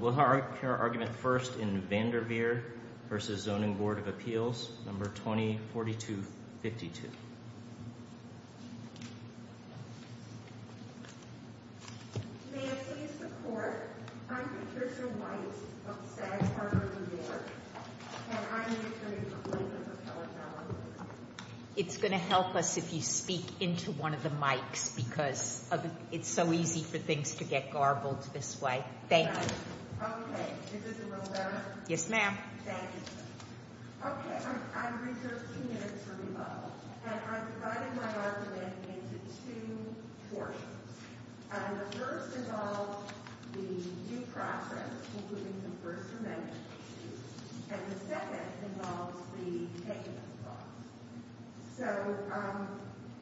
We'll hear our argument first in Vanderveer v. Zoning Board of Appeals, No. 20-4252. May I please report, I'm Patricia White of Stag Harbor, New York, and I'm the attorney for William and Paola Fallon. It's going to help us if you speak into one of the mics because it's so easy for things to get garbled this way. Okay. Thank you. Okay. Is this a roll call? Yes, ma'am. Thank you. Okay. I've reserved two minutes for rebuttal. And I've divided my argument into two portions. The first involves the due process, including the first amendment, and the second involves the takings clause. So,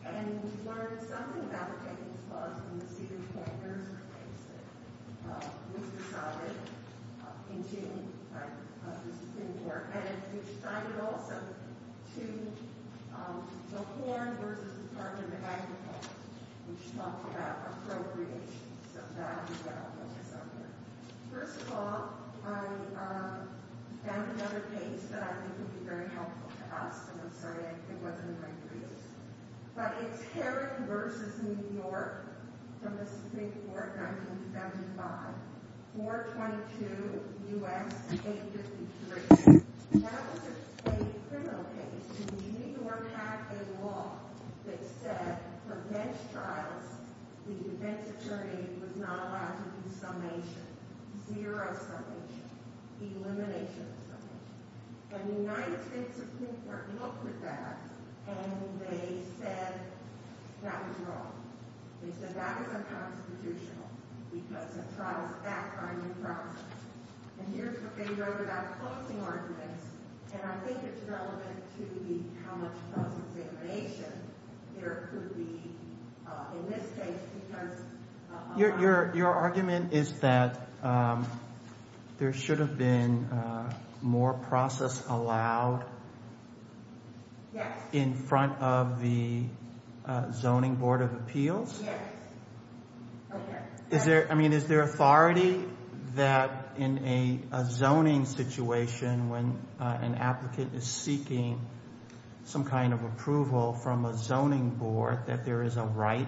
and we've learned something about the takings clause in the CEDA report. There's a case that was decided in June, I believe, in New York. And we've tied it also to the Horn v. Department of Agriculture, which talked about appropriation. So that is what I'll focus on here. First of all, I found another case that I think would be very helpful to us. And I'm sorry it wasn't in my briefs. But it's Heron v. New York from Mississippi Court, 1975, 422 U.S. 853. That was a criminal case. It's a New York Act of law that said for bench trials, the bench attorney was not allowed to do summation, zero summation, elimination of summation. And the United States Supreme Court looked at that, and they said that was wrong. They said that was unconstitutional because a trial is backed by a new process. And here's what they wrote about closing arguments. And I think it's relevant to how much process elimination there could be in this case because— Your argument is that there should have been more process allowed in front of the Zoning Board of Appeals? Yes. Okay. I mean, is there authority that in a zoning situation when an applicant is seeking some kind of approval from a zoning board that there is a right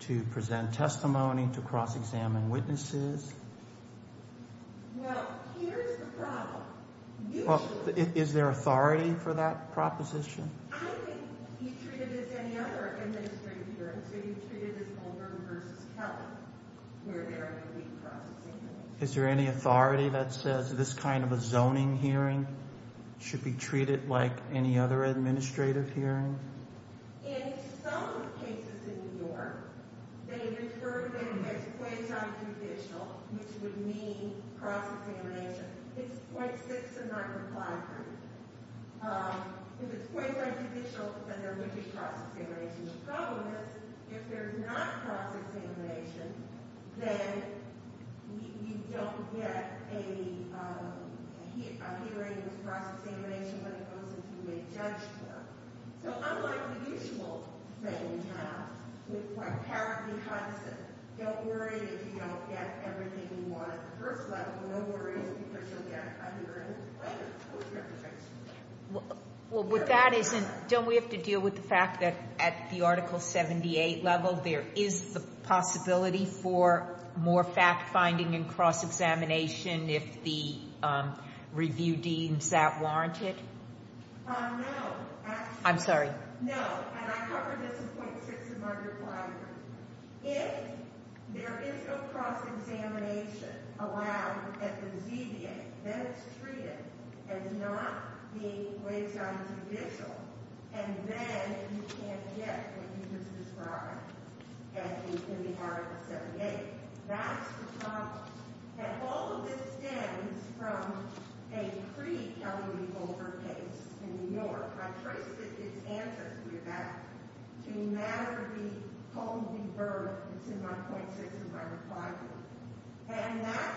to present testimony, to cross-examine witnesses? Well, here's the problem. Is there authority for that proposition? I don't think you treat it as any other administrative hearing. So you treat it as Goldberg v. Kelly, where there are going to be cross-examinations. Is there any authority that says this kind of a zoning hearing should be treated like any other administrative hearing? In some of the cases in New York, they refer to them as quasi-judicial, which would mean cross-examination. It's .6 and not .5. If it's quasi-judicial, then there would be cross-examination. The problem is if there's not cross-examination, then you don't get a hearing that's cross-examination, but it goes into a mid-judge term. So unlike the usual thing we have, which is like parity cuts and don't worry if you don't get everything you want at the first level, no worries because you'll get a hearing. Well, with that, don't we have to deal with the fact that at the Article 78 level, there is the possibility for more fact-finding and cross-examination if the review deems that warranted? No. I'm sorry. No, and I covered this in .6 and .5. If there is no cross-examination allowed at the ZBA, then it's treated as not being quasi-judicial, and then you can't get what you just described in the Article 78. That's the problem. And all of this stems from a pre-Kelley v. Goldberg case in New York. I traced it. It's ancestry of that. To matter be, home be birthed. It's in my .6 and my .5. And that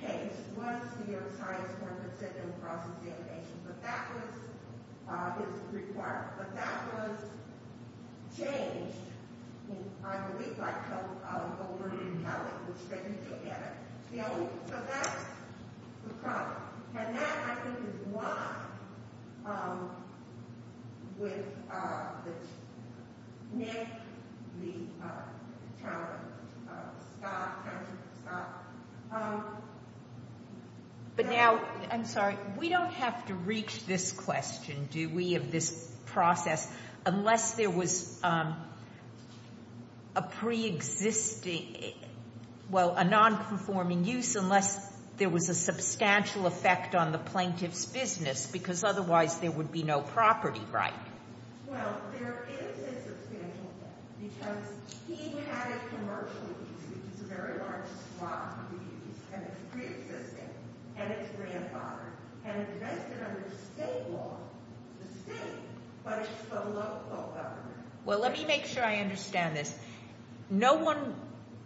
case was the science form that said no cross-examination. But that was his requirement. But that was changed, I believe, by Kelley v. Goldberg in how it was taken together. So that's the problem. And that, I think, is why, with Nick, the challenge, Scott, Patrick, Scott. But now, I'm sorry, we don't have to reach this question, do we, of this process, unless there was a pre-existing, well, a non-conforming use, unless there was a substantial effect on the plaintiff's business, because otherwise there would be no property right. Well, there is a substantial effect, because he had a commercial use, which is a very large swath of the use, and it's pre-existing, and it's grandfathered. And it's vested under state law, the state, but it's the local government. Well, let me make sure I understand this. No one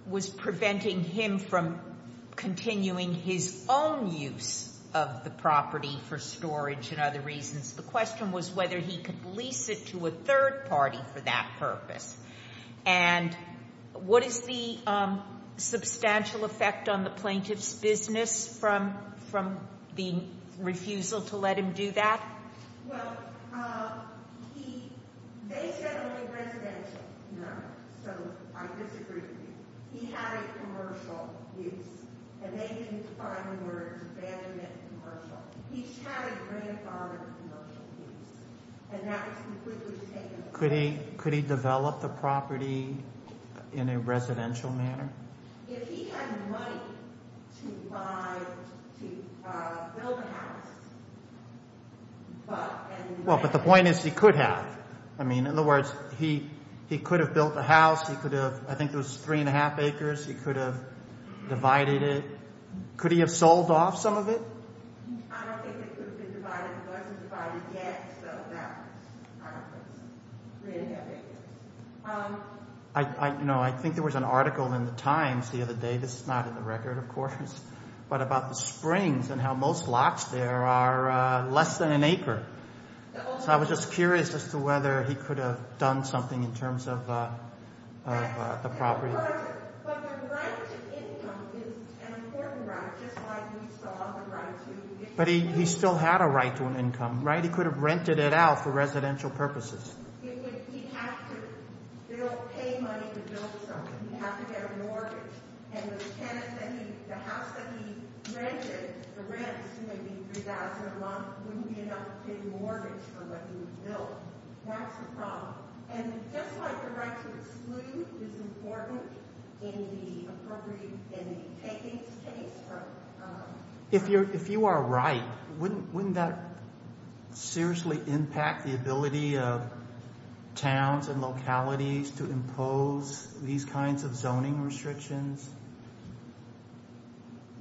was preventing him from continuing his own use of the property for storage and other reasons. The question was whether he could lease it to a third party for that purpose. And what is the substantial effect on the plaintiff's business from the refusal to let him do that? Well, they said only residential, so I disagree with you. He had a commercial use, and they didn't find a way to abandon that commercial. He had a grandfathered commercial use, and that was completely taken away. Could he develop the property in a residential manner? If he had money to buy, to build a house, but— Well, but the point is he could have. I mean, in other words, he could have built a house. He could have—I think it was 3 1⁄2 acres. He could have divided it. Could he have sold off some of it? I don't think it could have been divided. It wasn't divided yet, so I don't think so. 3 1⁄2 acres. I think there was an article in The Times the other day—this is not in the record, of course— but about the springs and how most lots there are less than an acre. So I was just curious as to whether he could have done something in terms of the property. But the right to income is an important right, just like we saw the right to— But he still had a right to an income, right? He could have rented it out for residential purposes. He'd have to pay money to build something. He'd have to get a mortgage, and the house that he rented, the rents, maybe $3,000 a month wouldn't be enough to pay the mortgage for what he would build. That's the problem. And just like the right to exclude is important in the appropriate—in taking space from— If you are right, wouldn't that seriously impact the ability of towns and localities to impose these kinds of zoning restrictions?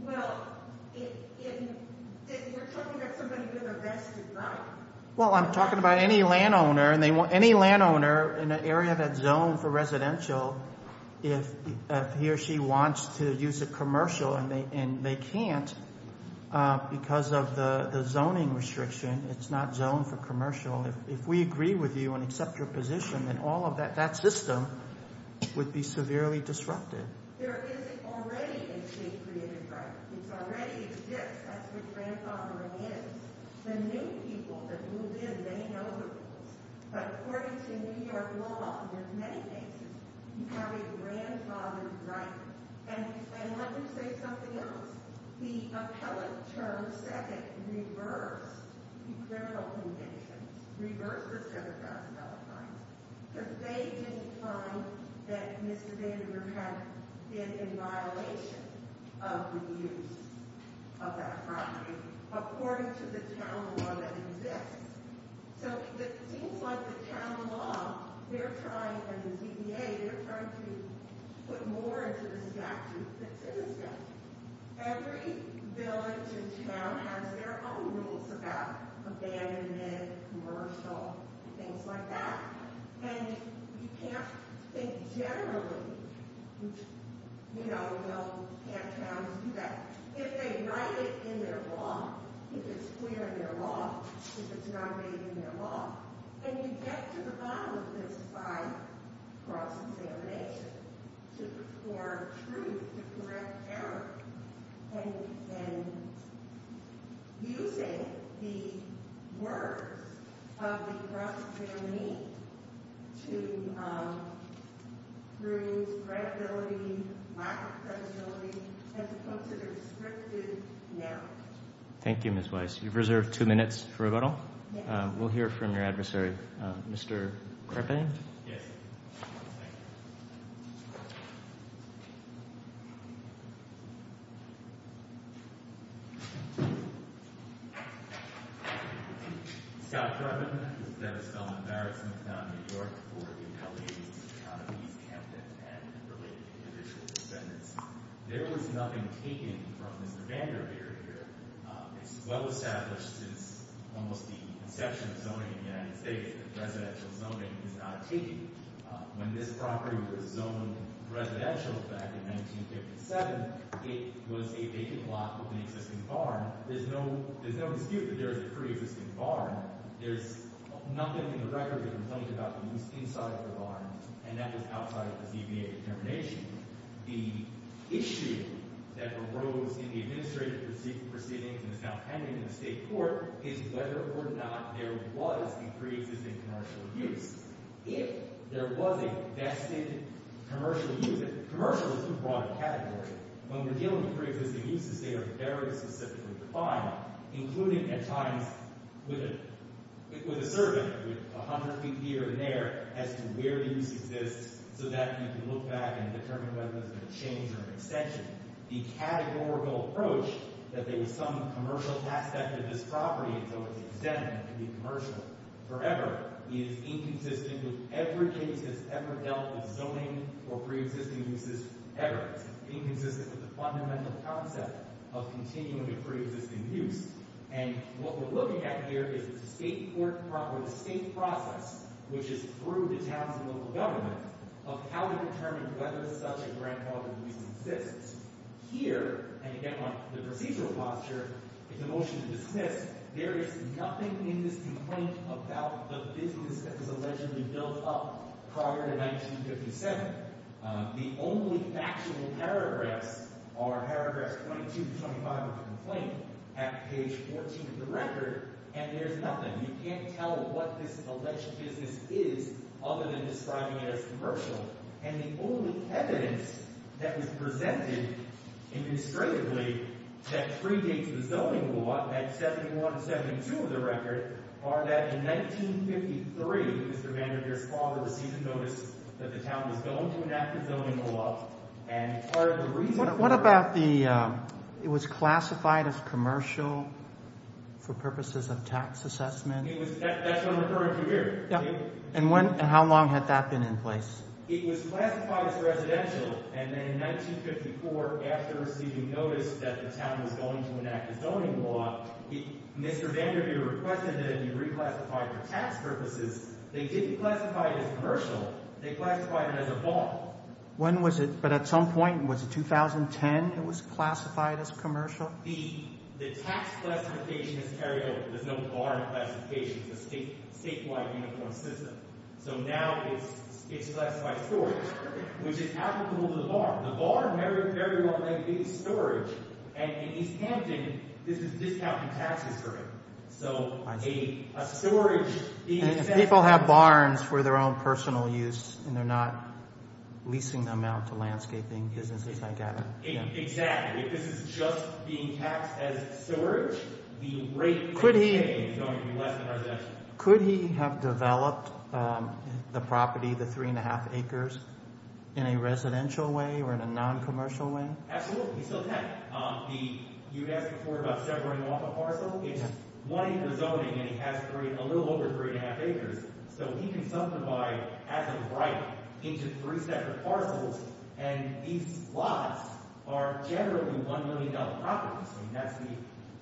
Well, if you're talking about somebody with a vested right— Well, I'm talking about any landowner. Any landowner in an area that's zoned for residential, if he or she wants to use a commercial and they can't because of the zoning restriction, it's not zoned for commercial. If we agree with you and accept your position, then all of that system would be severely disrupted. There is already a state-created right. It already exists. That's what grandfathering is. The new people that moved in, they know the rules. But according to New York law, in many cases, you have a grandfathered right. And let me say something else. The appellate term second reversed the criminal conviction, reversed the $7,000 fine, because they didn't find that Mr. Daniel had been in violation of the use of that property. According to the town law that exists. So it seems like the town law, they're trying, and the CDA, they're trying to put more into the statute that's in the statute. Every village and town has their own rules about abandonment, commercial, things like that. And you can't think generally, you know, well, can't towns do that? If they write it in their law, if it's clear in their law, if it's not made in their law, then you get to the bottom of this by cross-examination or truth to correct error. And using the words of the cross-examination to prove credibility, micro-credibility, as opposed to the restrictive narrative. Thank you, Ms. Weiss. You've reserved two minutes for rebuttal. We'll hear from your adversary. Mr. Crippen? Yes. Thank you. Scott Crippen. This is Dennis Feldman, Barrett-Smithtown, New York, for the LA Economies Campaign and related individual defendants. There was nothing taken from Mr. Vanderveer here. It's well established since almost the inception of zoning in the United States that residential zoning is not taken. When this property was zoned residential back in 1957, it was a vacant lot with an existing barn. There's no dispute that there is a pre-existing barn. There's nothing in the record that complained about the moose inside the barn, and that was outside of the CBA determination. The issue that arose in the administrative proceedings and is now pending in the state court is whether or not there was a pre-existing commercial use. If there was a vested commercial use, and commercial is a broad category, when we're dealing with pre-existing uses, they are very specifically defined, including at times with a survey with 100 feet here and there as to where the use exists so that you can look back and determine whether there's been a change or an extension. The categorical approach that there was some commercial aspect of this property until it was extended to be commercial forever is inconsistent with every case that's ever dealt with zoning or pre-existing uses ever. It's inconsistent with the fundamental concept of continuing a pre-existing use, and what we're looking at here is the state court, or the state process, which is through the towns and local government, of how to determine whether such a grandfathered use exists. Here, and again on the procedural posture, it's a motion to dismiss. There is nothing in this complaint about the business that was allegedly built up prior to 1957. The only factual paragraphs are paragraphs 22 to 25 of the complaint at page 14 of the record, and there's nothing. You can't tell what this alleged business is other than describing it as commercial, and the only evidence that was presented administratively that predates the zoning move-up at 71 and 72 of the record are that in 1953, Mr. Vanderbeer's father received a notice that the town was going to enact a zoning move-up, and part of the reason for that— That's what I'm referring to here. And how long had that been in place? It was classified as residential, and then in 1954, after receiving notice that the town was going to enact a zoning law, Mr. Vanderbeer requested that it be reclassified for tax purposes. They didn't classify it as commercial. They classified it as a bar. When was it? But at some point, was it 2010 it was classified as commercial? The tax classification is carried over. There's no bar classification. It's a statewide uniform system. So now it's classified as storage, which is applicable to the bar. The bar very well may be storage, and in East Hampton, this is discounting taxes for it. So a storage— If people have barns for their own personal use and they're not leasing them out to landscaping businesses, I get it. Exactly. If this is just being taxed as storage, the rate per day is going to be less than residential. Could he have developed the property, the three-and-a-half acres, in a residential way or in a noncommercial way? Absolutely. He still can. You asked before about severing off a parcel. It's one-acre zoning, and he has a little over three-and-a-half acres. So he can subdivide, as of right, into three separate parcels, and these lots are generally $1 million properties. I mean, that's the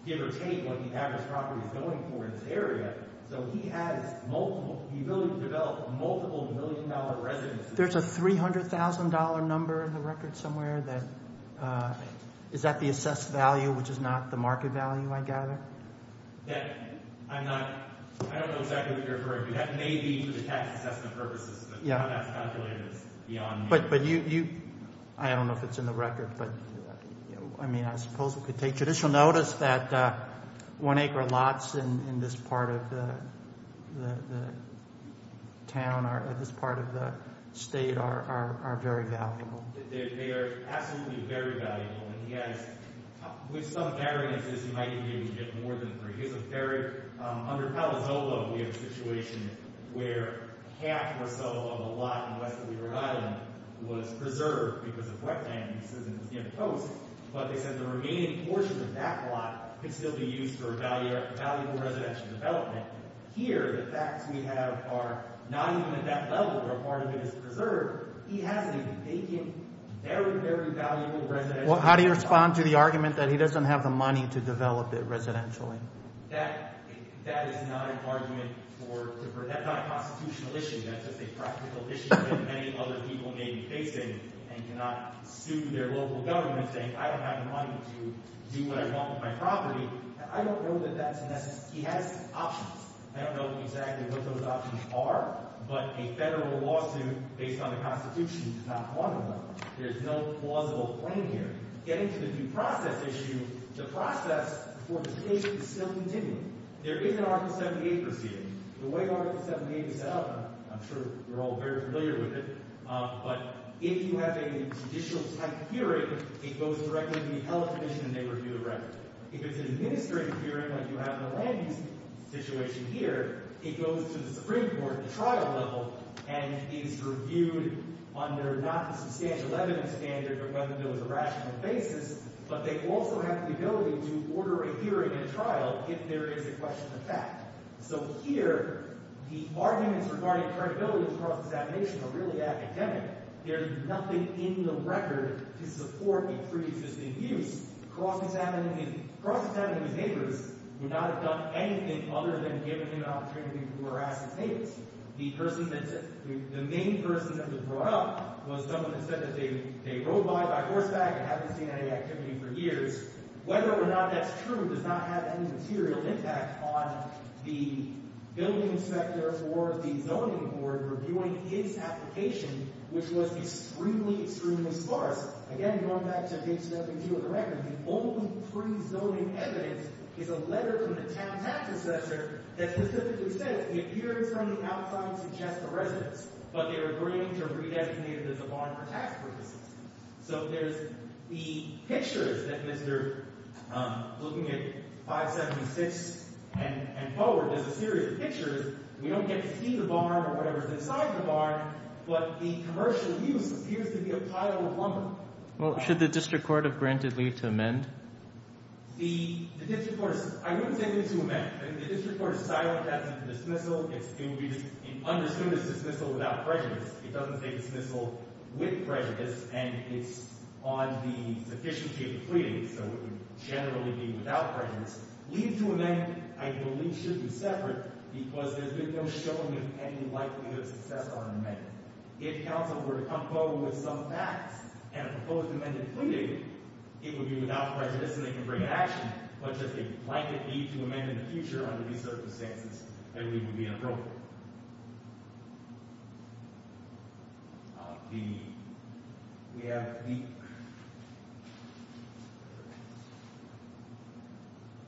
give or take what the average property is going for in this area. So he has the ability to develop multiple million-dollar residences. There's a $300,000 number in the record somewhere that— Is that the assessed value, which is not the market value, I gather? I'm not—I don't know exactly what you're referring to. That may be for the tax assessment purposes, but I'm not calculating this beyond— But you—I don't know if it's in the record, but, I mean, I suppose we could take judicial notice that one-acre lots in this part of the town or this part of the state are very valuable. They are absolutely very valuable. And he has—with some variances, he might even be able to get more than three. Here's a very—under Palo Zolo, we have a situation where half or so of a lot in west of Weaver Island was preserved because of wetland, and this isn't, you know, toast. But they said the remaining portion of that lot could still be used for valuable residential development. Here, the facts we have are not even at that level where a part of it is preserved. He has a vacant, very, very valuable residential— Well, how do you respond to the argument that he doesn't have the money to develop it residentially? That is not an argument for—that's not a constitutional issue. That's just a practical issue that many other people may be facing and cannot sue their local government saying, I don't have the money to do what I want with my property. I don't know that that's a necessary—he has options. I don't know exactly what those options are, but a federal lawsuit based on the Constitution is not one of them. There's no plausible claim here. Getting to the due process issue, the process for litigation is still continuing. There is an Article 78 proceeding. The way Article 78 is set up, I'm sure you're all very familiar with it, but if you have a judicial-type hearing, it goes directly to the appellate commission, and they review the record. If it's an administrative hearing like you have in the land-use situation here, it goes to the Supreme Court at the trial level, and it is reviewed under not a substantial evidence standard, but whether there was a rational basis. But they also have the ability to order a hearing at a trial if there is a question of fact. So here, the arguments regarding credibility of cross-examination are really academic. There's nothing in the record to support a preexisting use. Cross-examining his neighbors would not have done anything other than giving him an opportunity to harass his neighbors. The main person that was brought up was someone that said that they rode by by horseback and hadn't seen any activity for years. Whether or not that's true does not have any material impact on the building inspector or the zoning board reviewing his application, which was extremely, extremely sparse. Again, going back to HWG with the record, the only pre-zoning evidence is a letter from the town tax assessor that specifically says the appearance from the outside suggests a residence, but they're agreeing to redesignate it as a barn for tax reasons. So there's the pictures that Mr. looking at 576 and forward. There's a series of pictures. We don't get to see the barn or whatever's inside the barn, but the commercial use appears to be a pile of lumber. Well, should the district court have granted leave to amend? The district court, I wouldn't say leave to amend. The district court is silent as to the dismissal. It would be understood as dismissal without prejudice. It doesn't say dismissal with prejudice, and it's on the sufficiency of the pleading, so it would generally be without prejudice. Leave to amend, I believe, should be separate because there's been no showing of any likelihood of success on an amendment. If council were to come forward with some facts and a proposed amended pleading, it would be without prejudice, and they can bring an action, but just a blanket leave to amend in the future under these circumstances, I believe would be inappropriate. The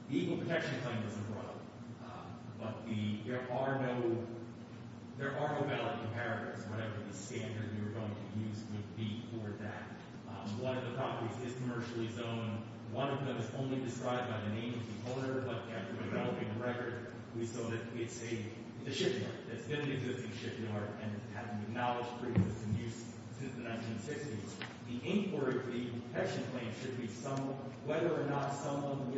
Equal Protection Claim doesn't run, but there are no valid comparatives, whatever the standard we were going to use would be for that. One of the properties is commercially zoned. One of them is only described by the name of the owner, but after developing the record, we saw that it's a shipyard. It's been an existing shipyard and has been acknowledged for use since the 1960s. The inquiry for the Equal Protection Claim should be whether or not someone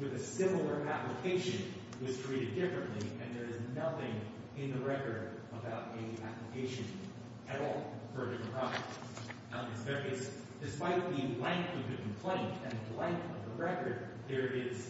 with a similar application was treated differently, and there is nothing in the record about any application at all for a different property. Now, despite the length of the complaint and the length of the record, there is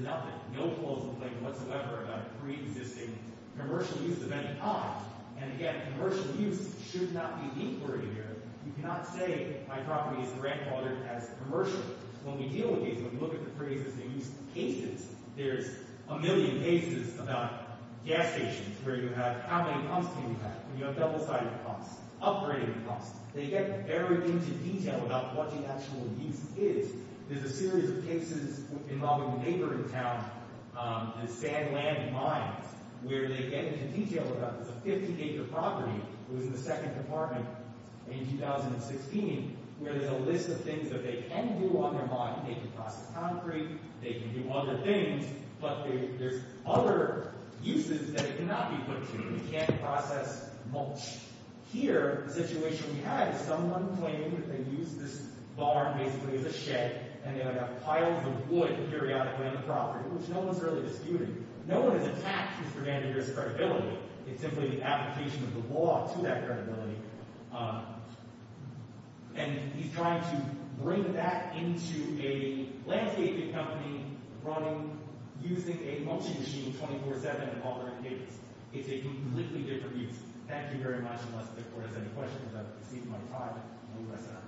nothing, no close complaint whatsoever about a preexisting commercial use of any property. And again, commercial use should not be the inquiry here. You cannot say my property is the grandfathered as commercial. When we deal with these, when we look at the cases, they use cases. There's a million cases about gas stations where you have how many pumps do you have, and you have double-sided pumps, upgrading pumps. They get very into detail about what the actual use is. There's a series of cases involving a neighboring town, the Sandland Mines, where they get into detail about this. A 50-acre property was in the Second Department in 2016, where there's a list of things that they can do on their lot. They can process concrete. They can do other things. But there's other uses that it cannot be put to. You can't process mulch. Here, the situation we have is someone claiming that they used this barn basically as a shed, and they would have piles of wood periodically on the property, which no one's really disputing. No one has attacked Mr. Vanderbeer's credibility. It's simply the application of the law to that credibility. And he's trying to bring that into a landscaping company running, using a mulching machine 24-7 in all their encampments. It's a completely different use. Thank you very much, unless the Court has any questions. I've received them on private from U.S. employees.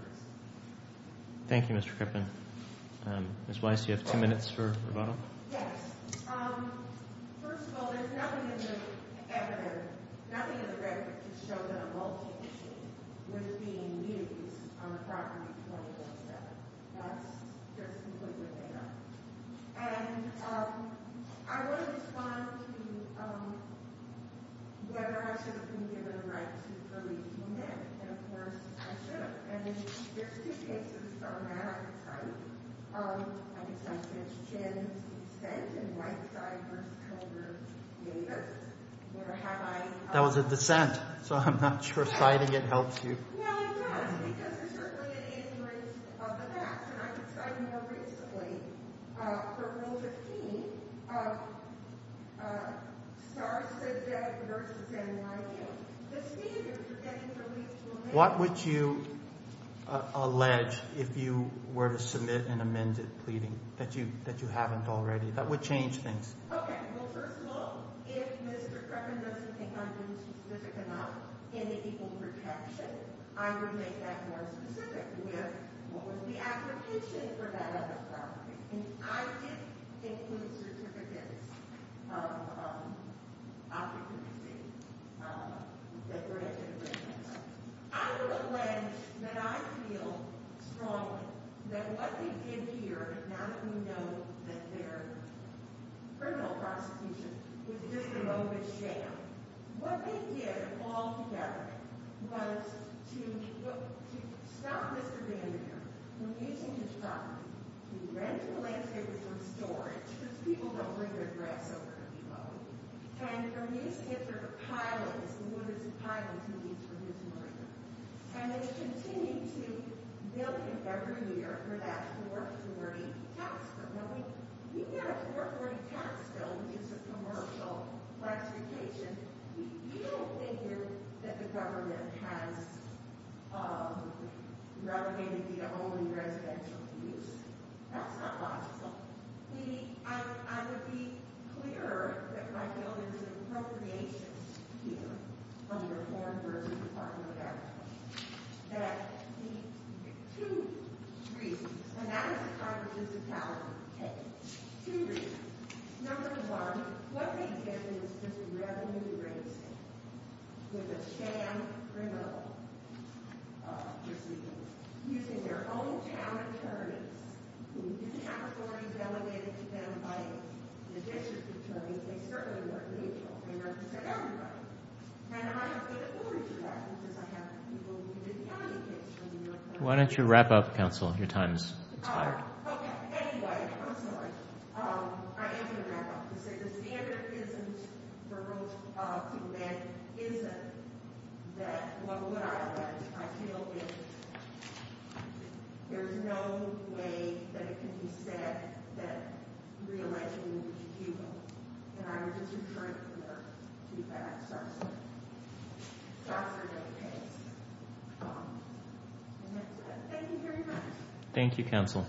Thank you, Mr. Krippen. Ms. Weiss, do you have two minutes for rebuttal? Yes. First of all, there's nothing in the evidence, nothing in the record, to show that a mulching machine was being used on the property 24-7. That's just completely made up. And I want to respond to whether I should have been given a right to freely do that. And, of course, I should have. And there's two cases from that I could cite. I could cite Ms. Chinn's dissent in Whiteside v. Culver Davis. That was a dissent, so I'm not sure citing it helps you. No, it does, because there's certainly an inference of the facts. And I could cite it more principally for Rule 15 of Starr said that versus NYU. The standards are getting released to a minimum. What would you allege if you were to submit an amended pleading that you haven't already? That would change things. Okay. Well, first of all, if Mr. Creppen doesn't think I'm being too specific enough in the equal protection, I would make that more specific with what was the application for that other property. And I didn't include certificates of occupancy. I would allege that I feel strongly that what they did here, now that we know that their criminal prosecution was just a moment's sham, what they did all together was to stop Mr. Vandenberg from using his property, to rent the landscape from storage, because people don't leave their grass over to be mowed, and for his hitler pilots, and what does a pilot mean for his lawyer? And they continue to bill him every year for that 440 tax bill. When we get a 440 tax bill, which is a commercial classification, you don't think that the government has relegated the only residential use. That's not logical. I would be clear that I feel there's an appropriation here on the reform versus department of agriculture, that the two reasons, and that is a kind of municipality case, two reasons. Number one, what they did was just revenue raising with a sham criminal proceeding, using their own town attorneys. If you have a 440 delegated to them by the district attorney, they certainly weren't neutral. They represented everybody. And I have good authority to that, because I have people who did county cases. Why don't you wrap up, counsel? Your time's expired. Okay. Anyway, I'm sorry. I am going to wrap up. To say the standard isn't the rule of the land isn't that what would I would, I feel is there's no way that it can be said that re-election would be futile. And I would just refer you to the tax officer. The officer really pays. And that's it. Thank you very much. Thank you, counsel.